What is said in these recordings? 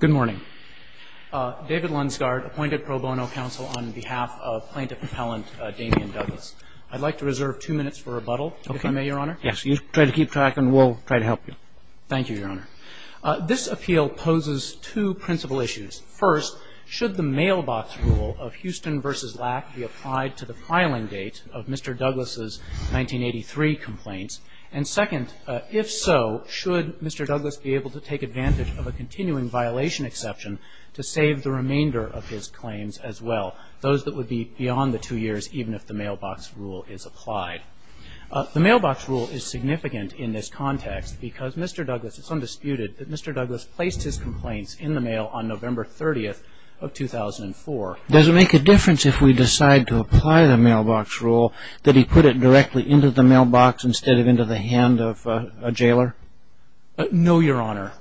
Good morning. David Lunsgaard, appointed pro bono counsel on behalf of plaintiff appellant Damian Douglas. I'd like to reserve two minutes for rebuttal, if I may, Your Honor. Yes. You try to keep track and we'll try to help you. Thank you, Your Honor. This appeal poses two principal issues. First, should the mailbox rule of Houston v. Lack be applied to the filing date of Mr. Douglas' 1983 complaints? And second, if so, should Mr. Douglas be able to take advantage of a continuing violation exception to save the remainder of his claims as well, those that would be beyond the two years, even if the mailbox rule is applied. The mailbox rule is significant in this context because Mr. Douglas, it's undisputed, that Mr. Douglas placed his complaints in the mail on November 30th of 2004. Does it make a difference if we decide to apply the mailbox rule that he put it directly into the mailbox instead of into the hand of a jailer? No, Your Honor.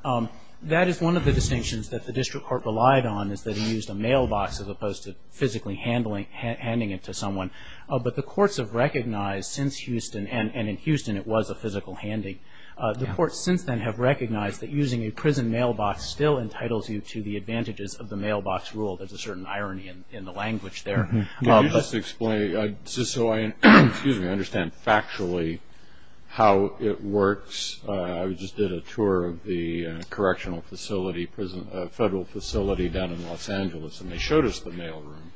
That is one of the distinctions that the district court relied on, is that he used a mailbox as opposed to physically handing it to someone. But the courts have recognized since Houston, and in Houston it was a physical handing, the courts since then have recognized that using a prison mailbox still entitles you to the advantages of the mailbox rule. There's a certain irony in the language there. Could you just explain, so I understand factually how it works. I just did a tour of the correctional facility, federal facility down in Los Angeles, and they showed us the mail room.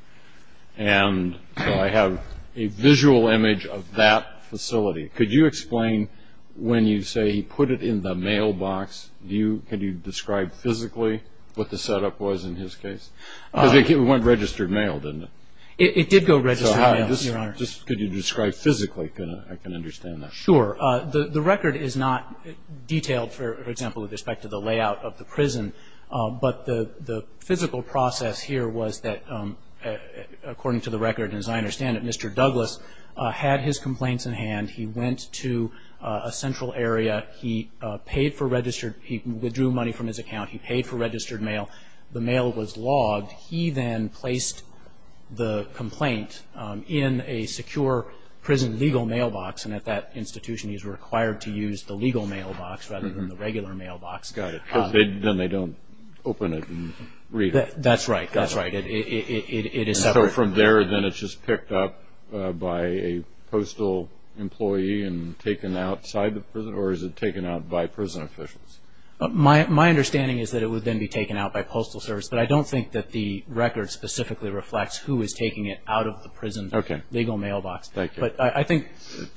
And so I have a visual image of that facility. Could you explain when you say he put it in the mailbox, can you describe physically what the setup was in his case? Because it went registered mail, didn't it? It did go registered mail, Your Honor. Just could you describe physically? I can understand that. Sure. The record is not detailed, for example, with respect to the layout of the prison. But the physical process here was that, according to the record, as I understand it, Mr. Douglas had his complaints in hand. He went to a central area. He paid for registered, he withdrew money from his account. He paid for the complaint in a secure prison legal mailbox. And at that institution, he's required to use the legal mailbox rather than the regular mailbox. Got it. Because then they don't open it and read it. That's right. That's right. It is separate. So from there, then it's just picked up by a postal employee and taken outside the prison? Or is it taken out by prison officials? My understanding is that it would then be taken out by postal service. But I can't tell you who is taking it out of the prison legal mailbox. Okay. Thank you. But I think,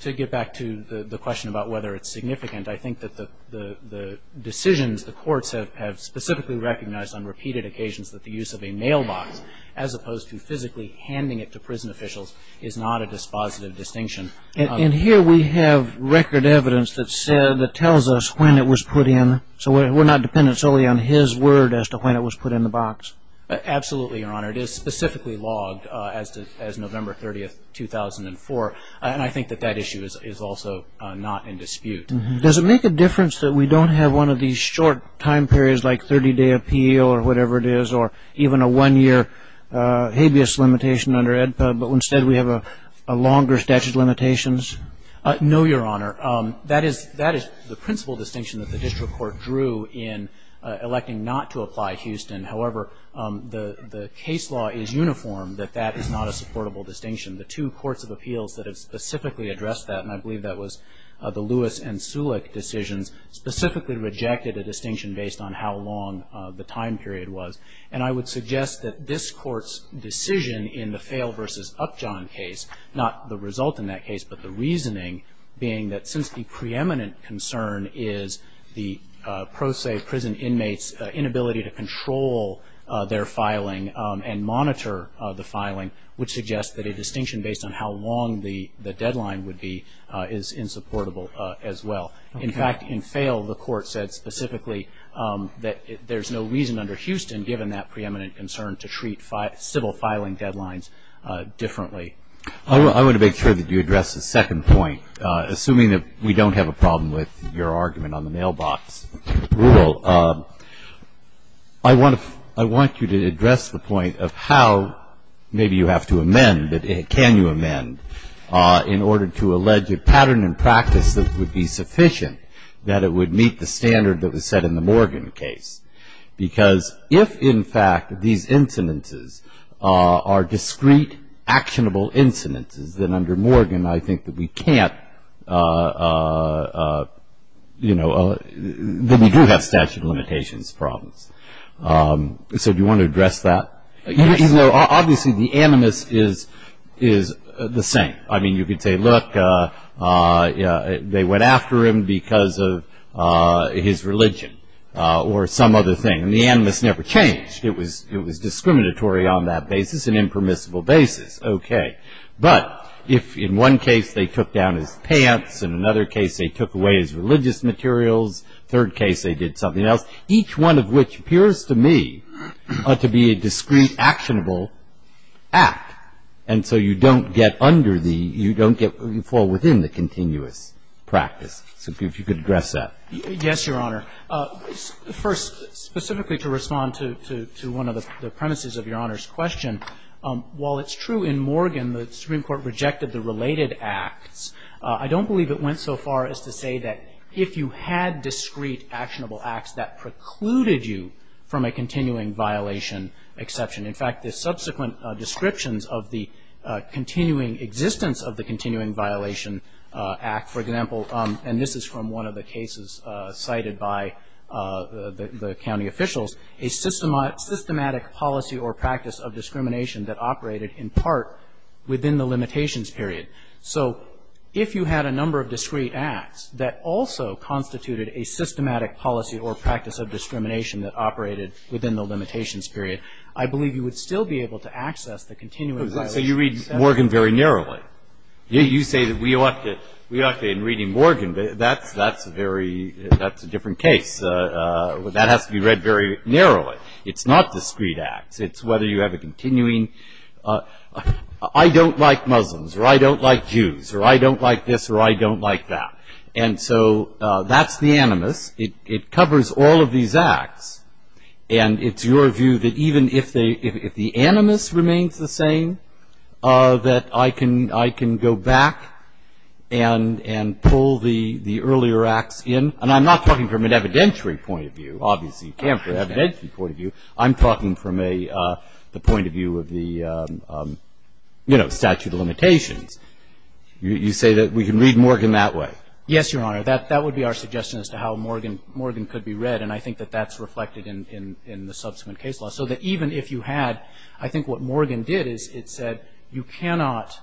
to get back to the question about whether it's significant, I think that the decisions the courts have specifically recognized on repeated occasions that the use of a mailbox, as opposed to physically handing it to prison officials, is not a dispositive distinction. And here we have record evidence that tells us when it was put in. So we're not dependent solely on his word as to when it was put in the box? Absolutely, Your Honor. It is specifically logged as November 30, 2004. And I think that that issue is also not in dispute. Does it make a difference that we don't have one of these short time periods like 30-day appeal or whatever it is, or even a one-year habeas limitation under AEDPA, but instead we have a longer statute of limitations? No, Your Honor. That is the principal distinction that the district court drew in electing not to apply Houston. However, the case law is uniform that that is not a supportable distinction. The two courts of appeals that have specifically addressed that, and I believe that was the Lewis and Sulek decisions, specifically rejected a distinction based on how long the time period was. And I would suggest that this Court's decision in the Fale v. Upjohn case, not the result in that case, but the reasoning being that since the preeminent concern is the pro se prison inmates' inability to control their filing and monitor the filing, would suggest that a distinction based on how long the deadline would be is insupportable as well. In fact, in Fale, the Court said specifically that there is no reason under Houston, given that preeminent concern, to treat civil filing deadlines differently. I want to make sure that you address the second point. Assuming that we don't have a problem with your argument on the mailbox rule, I want you to address the point of how maybe you have to amend, but can you amend, in order to allege a pattern and practice that would be sufficient that it would meet the standard that was set in the Morgan case. Because if, in fact, these incidences are discrete, actionable incidences, then under Morgan, I think that we can't, you know, that we do have statute of limitations problems. So do you want to address that? Yes. Obviously, the animus is the same. I mean, you could say, look, they went after him because of his religion or some other thing. And the animus never changed. It was discriminatory on that basis, an impermissible basis. Okay. But if in one case they took down his pants, in another case they took away his religious materials, third case they did something else, each one of which appears to me to be a discrete, actionable act. And so you don't get under the you don't get you fall within the continuous practice. So if you could address that. Yes, Your Honor. First, specifically to respond to one of the premises of Your Honor's question, while it's true in Morgan the Supreme Court rejected the related acts, I don't believe it went so far as to say that if you had discrete, actionable acts, that precluded you from a continuing violation exception. In fact, the subsequent descriptions of the continuing existence of the continuing violation act, for example, and this is from one of the cases cited by the county officials, a systematic policy or practice of discrimination that operated in part within the limitations period. So if you had a number of discrete acts that also constituted a systematic policy or practice of discrimination that operated within the limitations period, I believe you would still be able to access the continuing violation. So you read Morgan very narrowly. You say that we are in reading Morgan, but that's a different case. That has to be read very narrowly. It's not discrete acts. It's whether you have a continuing, I don't like Muslims, or I don't like Jews, or I don't like this, or I don't like that. And so that's the animus. It covers all of these acts. And it's your view that even if the animus remains the same, that I can go back and pull the earlier acts in. And I'm not talking from an evidentiary point of view, obviously you can't from an evidentiary point of view. I'm talking from the point of view of the statute of limitations. You say that we can read Morgan that way. Yes, Your Honor. That would be our suggestion as to how Morgan could be read. And I think that that's reflected in the subsequent case law. So that even if you had, I think what Morgan did is it said you cannot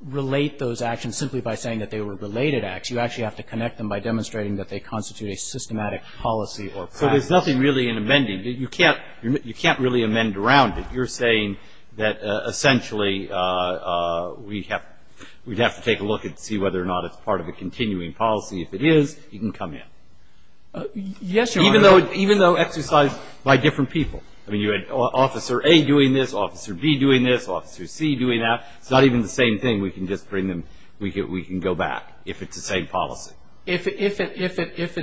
relate those actions simply by saying that they were related acts. You actually have to connect them by demonstrating that they constitute a systematic policy or practice. So there's nothing really in amending. You can't really amend around it. You're saying that essentially we'd have to take a look and see whether or not it's part of a continuing policy. If it is, you can come in. Yes, Your Honor. Even though exercised by different people. I mean, you had Officer A doing this, Officer B doing this, Officer C doing that. It's not even the same thing. We can just bring them, we can go back if it's the same policy. If it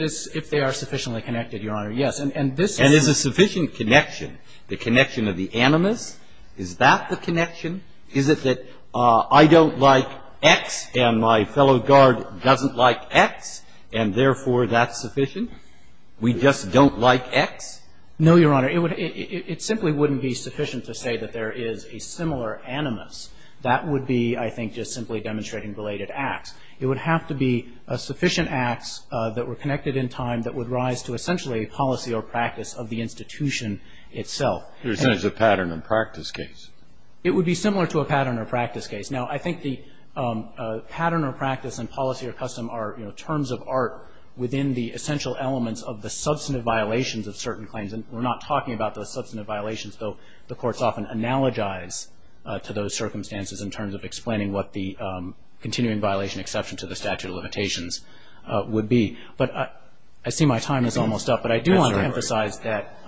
is, if they are sufficiently connected, Your Honor, yes. And this is And is a sufficient connection, the connection of the animus, is that the connection? Is it that I don't like X and my fellow guard doesn't like X, and therefore that's sufficient? We just don't like X? No, Your Honor. It simply wouldn't be sufficient to say that there is a similar animus. That would be, I think, just simply demonstrating related acts. It would have to be sufficient acts that were connected in time that would rise to essentially a policy or practice of the institution itself. You're saying it's a pattern and practice case. It would be similar to a pattern or practice case. Now, I think the pattern or practice and policy or custom are, you know, terms of art within the essential elements of the substantive violations of certain claims. And we're not talking about the substantive violations, though the courts often analogize to those circumstances in terms of explaining what the continuing violation exception to the statute of limitations would be. But I see my time is almost up, but I do want to emphasize that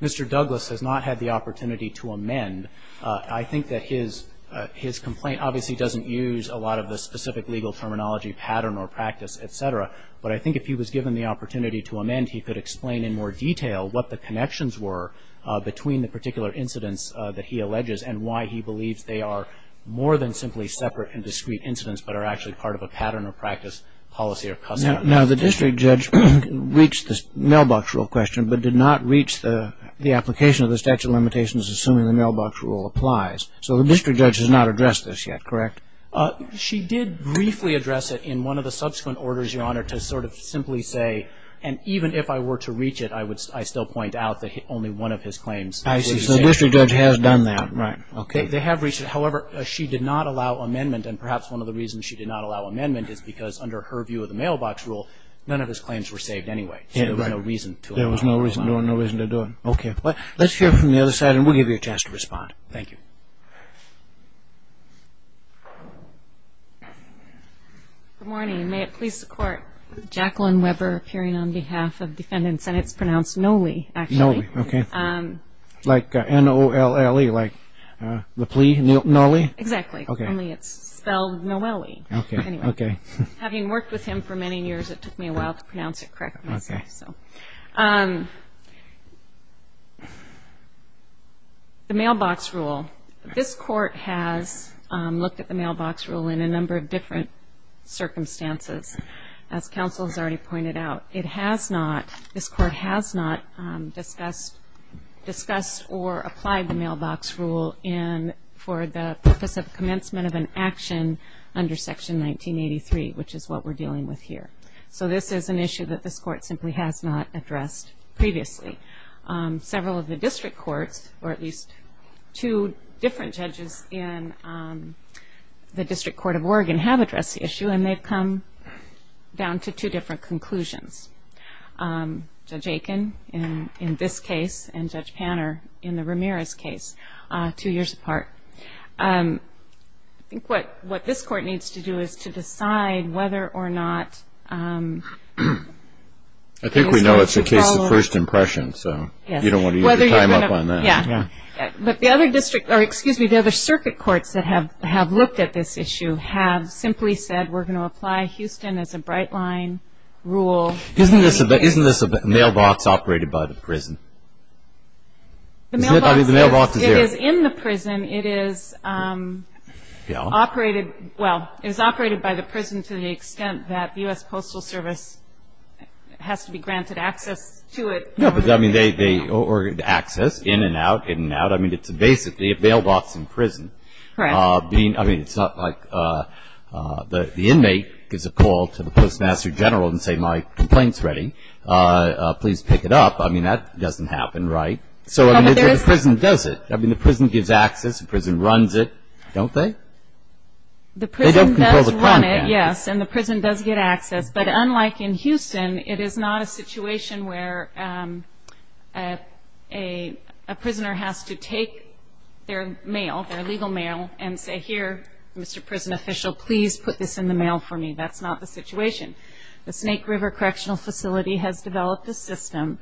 Mr. Douglas has not had the opportunity to amend. I think that his complaint obviously doesn't use a lot of the specific legal terminology, pattern or practice, et cetera. But I think if he was given the opportunity to amend, he could explain in more detail what the connections were between the particular incidents that he alleges and why he believes they are more than simply separate and discrete incidents, but are actually part of a pattern or practice policy or custom. Now, the district judge reached the mailbox rule question, but did not reach the application of the statute of limitations assuming the mailbox rule applies. So the district judge has done that, correct? She did briefly address it in one of the subsequent orders, Your Honor, to sort of simply say, and even if I were to reach it, I would still point out that only one of his claims was saved. I see. So the district judge has done that. Right. Okay. They have reached it. However, she did not allow amendment, and perhaps one of the reasons she did not allow amendment is because under her view of the mailbox rule, none of his claims were saved anyway. So there was no reason to allow amendment. There was no reason to do it. Okay. Let's hear from the other side, and we'll give you a chance to respond. Thank you. Good morning. May it please the Court. Jacqueline Weber, appearing on behalf of defendant's sentence, pronounced Noli, actually. Noli. Okay. Like N-O-L-L-E, like the plea, Noli? Exactly. Okay. Only it's spelled Noli. Okay. Anyway, having worked with him for many years, it took me a while to pronounce it correctly, so. The mailbox rule. This Court has looked at the mailbox rule in a number of different circumstances. As counsel has already pointed out, it has not, this Court has not discussed or applied the mailbox rule for the purpose of commencement of an action under Section 1983, which is what we're dealing with here. So this is an issue that this Court simply has not addressed previously. Several of the district courts, or at least two different judges in the District Court of Oregon have addressed the issue, and they've come down to two different conclusions. Judge Aiken in this case, and Judge Panner in the Ramirez case, two years apart. I think what this Court needs to do is to decide whether or not. I think we know it's a case of first impression, so you don't want to use your time up on that. Yeah. But the other district, or excuse me, the other circuit courts that have looked at this issue have simply said we're going to apply Houston as a bright line rule. Isn't this mailbox operated by the prison? The mailbox is in the prison. It is operated, well, it is operated by the prison to the extent that U.S. Postal Service has to be granted access to it. No, but I mean, they, or access in and out, in and out. I mean, it's basically a mailbox in prison. Correct. I mean, it's not like the inmate gives a call to the Postmaster General and say, my complaint's ready. Please pick it up. I mean, that doesn't happen, right? So I mean, the prison does it. I mean, the prison gives access, the prison runs it, don't they? The prison does run it, yes, and the prison does get access. But unlike in Houston, it is not a situation where a prisoner has to take their mail, their legal mail, and say, here, Mr. Prison Official, please put this in the mail for me. That's not the situation. The Snake River Correctional Facility has developed a system.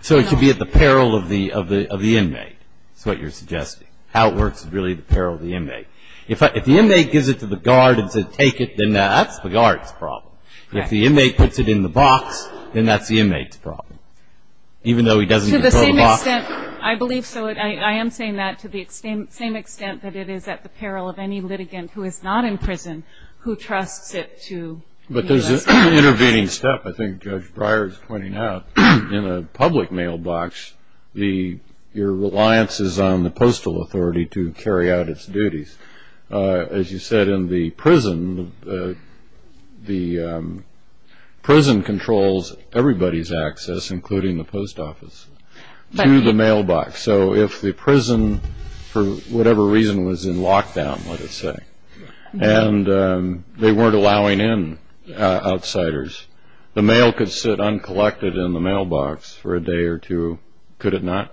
So it should be at the peril of the inmate, is what you're suggesting. How it works is really the peril of the inmate. If the inmate gives it to the guard and says, take it, then that's the guard's problem. If the inmate puts it in the box, then that's the inmate's problem, even though he doesn't control the box. To the same extent, I believe so. I am saying that to the same extent that it is at the peril of any litigant who is not in prison who trusts it to be listed. But there's an intervening step, I think Judge Breyer is pointing out. In a public mailbox, your reliance is on the postal authority to carry out its duties. As you said, in the prison, the prison controls everybody's access, including the post office, to the mailbox. So if the prison, for whatever reason, was in lockdown, let us say, and they weren't allowing in outsiders, the mailbox for a day or two, could it not?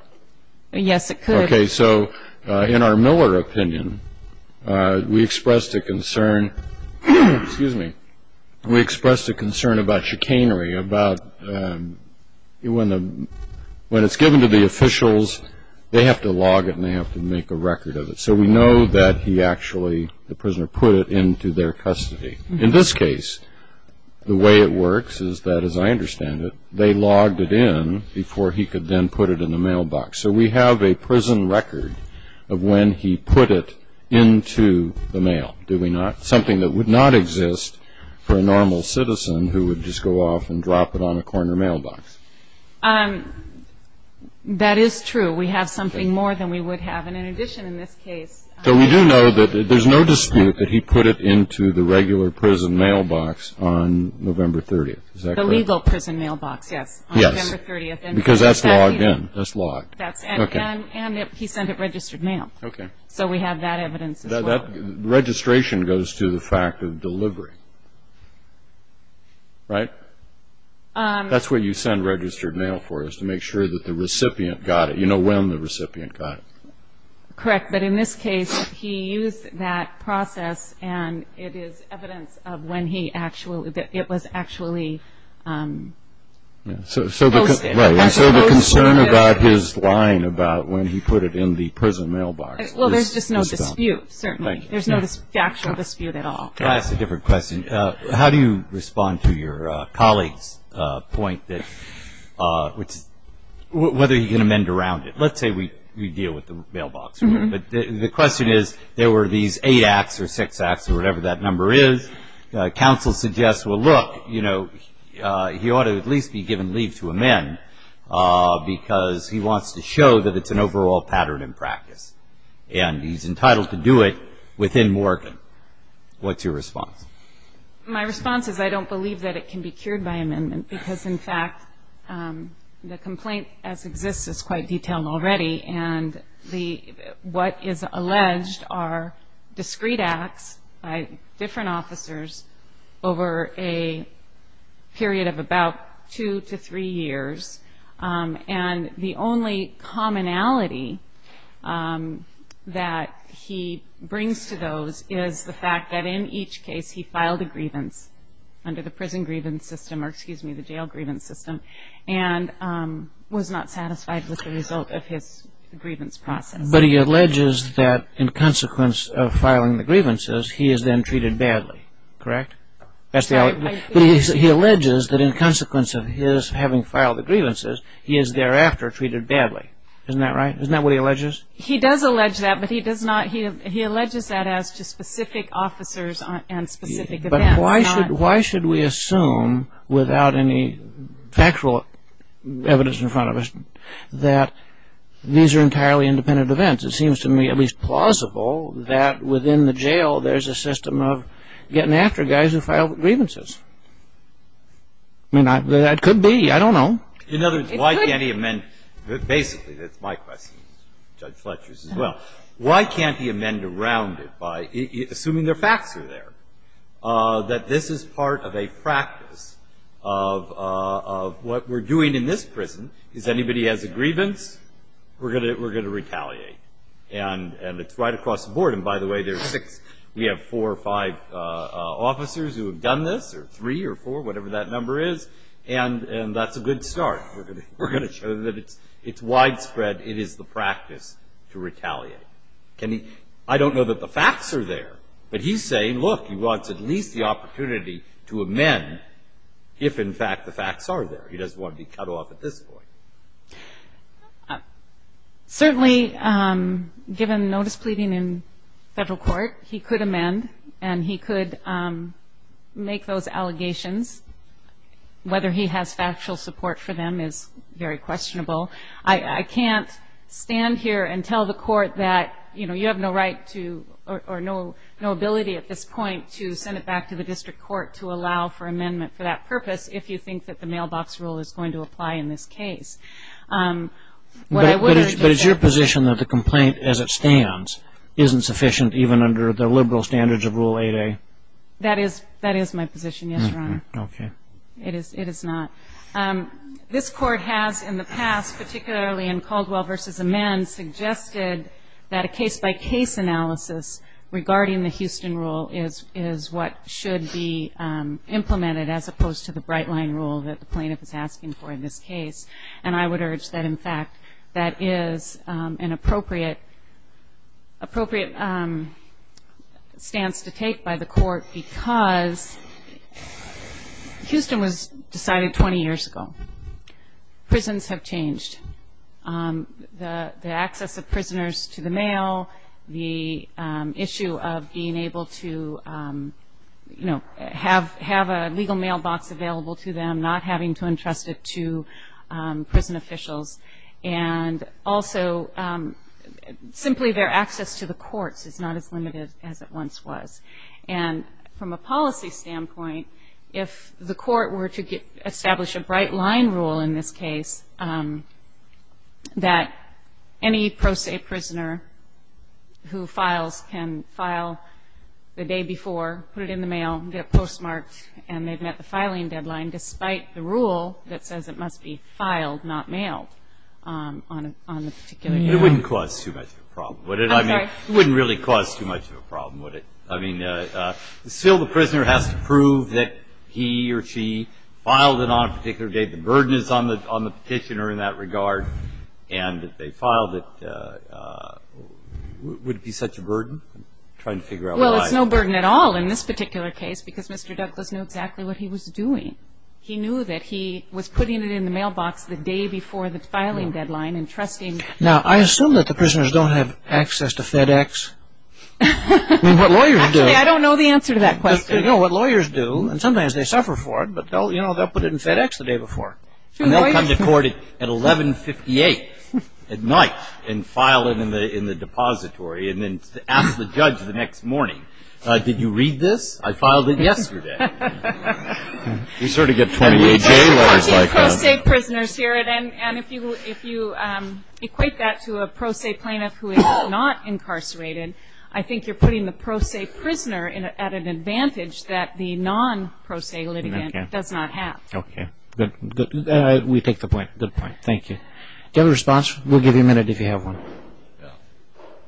Yes, it could. Okay, so in our Miller opinion, we expressed a concern about chicanery, about when it's given to the officials, they have to log it and they have to make a record of it. So we know that he actually, the prisoner, put it into their custody. In this case, the way it works is that, as I understand it, they logged it in before he could then put it in the mailbox. So we have a prison record of when he put it into the mail. Do we not? Something that would not exist for a normal citizen who would just go off and drop it on a corner mailbox. That is true. We have something more than we would have. And in addition, in this case... So we do know that there's no dispute that he put it into the regular prison mailbox on November 30th. The legal prison mailbox, yes. Yes, because that's logged in. That's logged. And he sent it registered mail. Okay. So we have that evidence. That registration goes to the fact of delivery, right? That's where you send registered mail for us, to make sure that the recipient got it. You know when the recipient got it. Correct, but in this case, he used that process and it is evidence of when he actually, that it was actually posted. So the concern about his line about when he put it in the prison mailbox is gone. Well, there's just no dispute, certainly. There's no factual dispute at all. I'll ask a different question. How do you respond to your colleague's point that, whether you can amend around it? Let's say we deal with the mailbox rule. But the question is, there were these eight acts or six acts or whatever that number is. Counsel suggests, well look, you know, he ought to at least be given leave to amend because he wants to show that it's an overall pattern in practice. And he's entitled to do it within Morgan. What's your response? My response is I don't believe that it can be cured by amendment because, in fact, the complaint as exists is quite detailed already. And what is alleged are discrete acts by different officers over a period of about two to three years. And the only commonality that he brings to those is the fact that in each case he filed a grievance under the prison grievance system, or excuse me, the jail grievance system, and was not satisfied with the result of his grievance process. But he alleges that, in consequence of filing the grievances, he is then treated badly, correct? That's the only... He alleges that, in consequence of his having filed the grievances, he is thereafter treated badly. Isn't that right? Isn't that what he alleges? He does allege that, but he alleges that as to specific officers and specific events. But why should we assume, without any factual evidence in front of us, that these are entirely independent events? It seems to me at least plausible that within the jail there's a system of getting after guys who filed grievances. I mean, that could be. I don't know. In other words, why can't he amend? Basically, that's my question, Judge Fletcher's as well. Why can't he amend around it, assuming the facts are there? That this is part of a practice of what we're doing in this prison, is anybody has a grievance, we're gonna retaliate. And it's right across the board. And by the way, there's six... We have four or five officers who have done this, or three or four, whatever that number is, and that's a good start. We're gonna show that it's widespread. It is the practice to retaliate. I don't know that the facts are there, but he's saying, look, he wants at least the opportunity to amend if, in fact, the facts are there. He doesn't want to be cut off at this point. Certainly, given notice pleading in federal court, he could amend and he whether he has factual support for them is very questionable. I can't stand here and tell the court that you have no right to, or no ability at this point, to send it back to the district court to allow for amendment for that purpose, if you think that the mailbox rule is going to apply in this case. But it's your position that the complaint, as it stands, isn't sufficient even under the liberal standards of Rule 8A? That is my position, yes, it is not. This court has, in the past, particularly in Caldwell v. Amend, suggested that a case-by-case analysis regarding the Houston Rule is what should be implemented, as opposed to the Brightline Rule that the plaintiff is asking for in this case. And I would urge that, in fact, that is an appropriate stance to take by the court because Houston was decided 20 years ago. Prisons have changed. The access of prisoners to the mail, the issue of being able to have a legal mailbox available to them, not having to trust it to prison officials. And also, simply their access to the courts is not as limited as it once was. And from a policy standpoint, if the court were to establish a Brightline Rule in this case, that any pro se prisoner who files can file the day before, put it in the mail, get the rule that says it must be filed, not mailed, on the particular day. It wouldn't cause too much of a problem, would it? I'm sorry? It wouldn't really cause too much of a problem, would it? I mean, still the prisoner has to prove that he or she filed it on a particular day. The burden is on the petitioner in that regard. And if they filed it, would it be such a burden? I'm trying to figure out why. Well, it's no burden at all in this particular case because Mr. Douglas knew exactly what he was doing. He knew that he was putting it in the mailbox the day before the filing deadline and trusting... Now, I assume that the prisoners don't have access to FedEx. I mean, what lawyers do... Actually, I don't know the answer to that question. No, what lawyers do, and sometimes they suffer for it, but they'll put it in FedEx the day before. And they'll come to court at 11.58 at night and file it in the depository and then ask the judge the next morning, did you read this? I filed it yesterday. We sort of get 28-day lawyers like that. We're talking pro se prisoners here, and if you equate that to a pro se plaintiff who is not incarcerated, I think you're putting the pro se prisoner at an advantage that the non-pro se litigant does not have. Okay. We take the point. Good point. Thank you. Do you have a response? We'll give you a minute if you have one.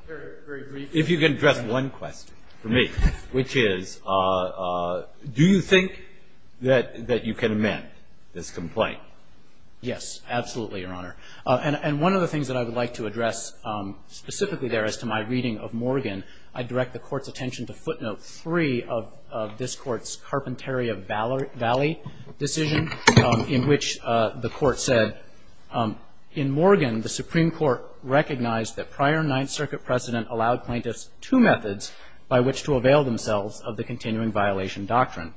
Very, very brief. If you can address one question for me, which is, do you think that you can amend this complaint? Yes, absolutely, Your Honor. And one of the things that I would like to address specifically there as to my reading of Morgan, I direct the Court's attention to footnote three of this Court's Carpentaria Valley decision, in which the recognized that prior Ninth Circuit precedent allowed plaintiffs two methods by which to avail themselves of the continuing violation doctrine.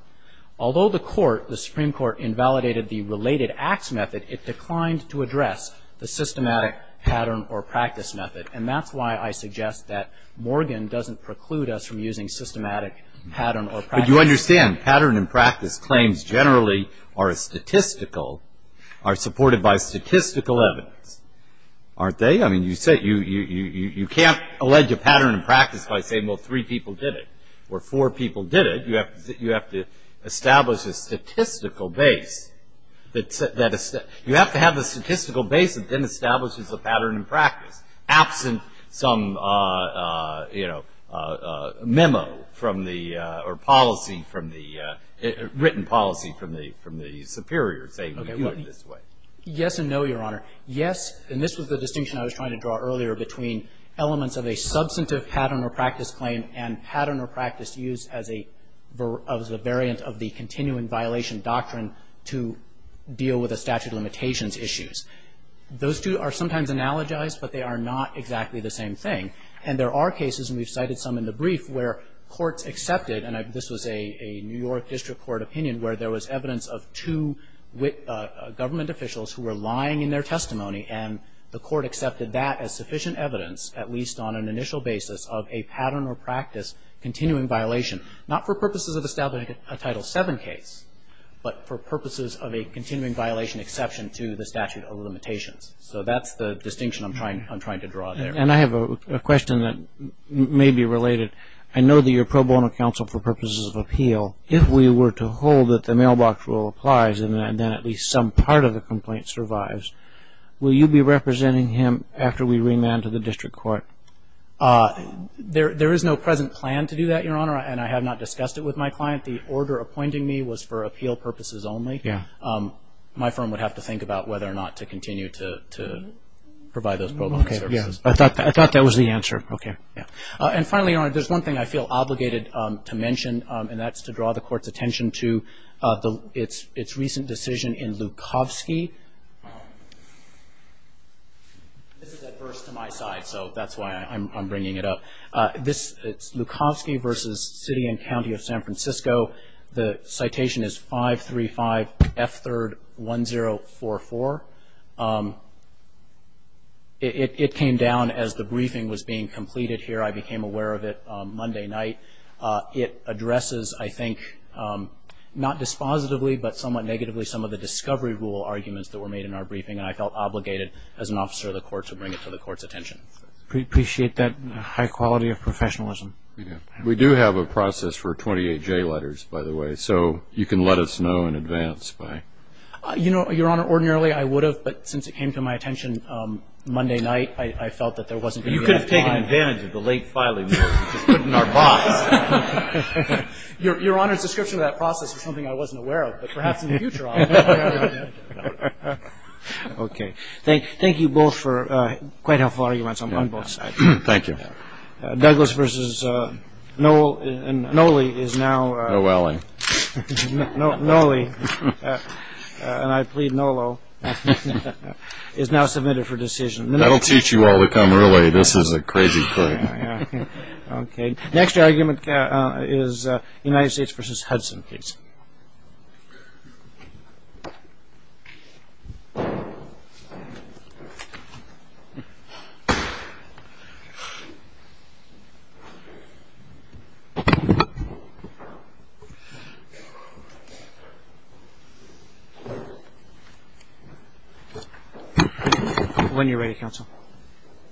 Although the Court, the Supreme Court, invalidated the related acts method, it declined to address the systematic pattern or practice method. And that's why I suggest that Morgan doesn't preclude us from using systematic pattern or practice. But you understand, pattern and practice claims generally are statistical, are supported by statistical evidence, aren't they? I mean, you can't allege a pattern and practice by saying, well, three people did it, or four people did it. You have to establish a statistical base. You have to have a statistical base that then establishes a pattern and practice, absent some memo from the or policy from the, written policy from the superiors saying we do it this way. Yes and no, Your Honor. Yes, and this was the distinction I was trying to draw earlier between elements of a substantive pattern or practice claim and pattern or practice used as a variant of the continuing violation doctrine to deal with the statute of limitations issues. Those two are sometimes analogized, but they are not exactly the same thing. And there are cases, and we've cited some in the past, and this was a New York District Court opinion where there was evidence of two government officials who were lying in their testimony, and the court accepted that as sufficient evidence, at least on an initial basis, of a pattern or practice continuing violation, not for purposes of establishing a Title VII case, but for purposes of a continuing violation exception to the statute of limitations. So that's the distinction I'm trying to draw there. And I have a question that may be related. I know that you're pro bono counsel for purposes of appeal. If we were to hold that the mailbox rule applies and then at least some part of the complaint survives, will you be representing him after we remand to the District Court? There is no present plan to do that, Your Honor, and I have not discussed it with my client. The order appointing me was for appeal purposes only. Yeah. My firm would have to think about whether or not to continue to provide those pro bono services. I thought that was the answer. Okay. And finally, Your Honor, there's one thing I feel obligated to mention, and that's to draw the Court's attention to its recent decision in Lukovsky. This is adverse to my side, so that's why I'm bringing it up. This is Lukovsky v. City and County of San Francisco. The citation is 535 F. 3rd. 1044. It came down as the briefing was being completed here. I became aware of it Monday night. It addresses, I think, not dispositively, but somewhat negatively, some of the discovery rule arguments that were made in our briefing, and I felt obligated as an officer of the Court to bring it to the Court's attention. We appreciate that high quality of professionalism. We do. We do have a process for 28 J letters, by the way, so you can let us know in advance by... You know, Your Honor, ordinarily, I would have, but since it came to my attention Monday night, I felt that there wasn't... You could have taken advantage of the late filing. Just put it in our box. Your Honor's description of that process was something I wasn't aware of, but perhaps in the future I'll take advantage of it. Okay. Thank you both for quite helpful arguments on both sides. Thank you. Douglas v. Nolley is now... Noelling. Nolley, and I plead NOLO, is now submitted for decision. That'll teach you all to come early. This is a crazy thing. Okay. Next argument is United States v. Hudson, please. When you're ready, Counsel.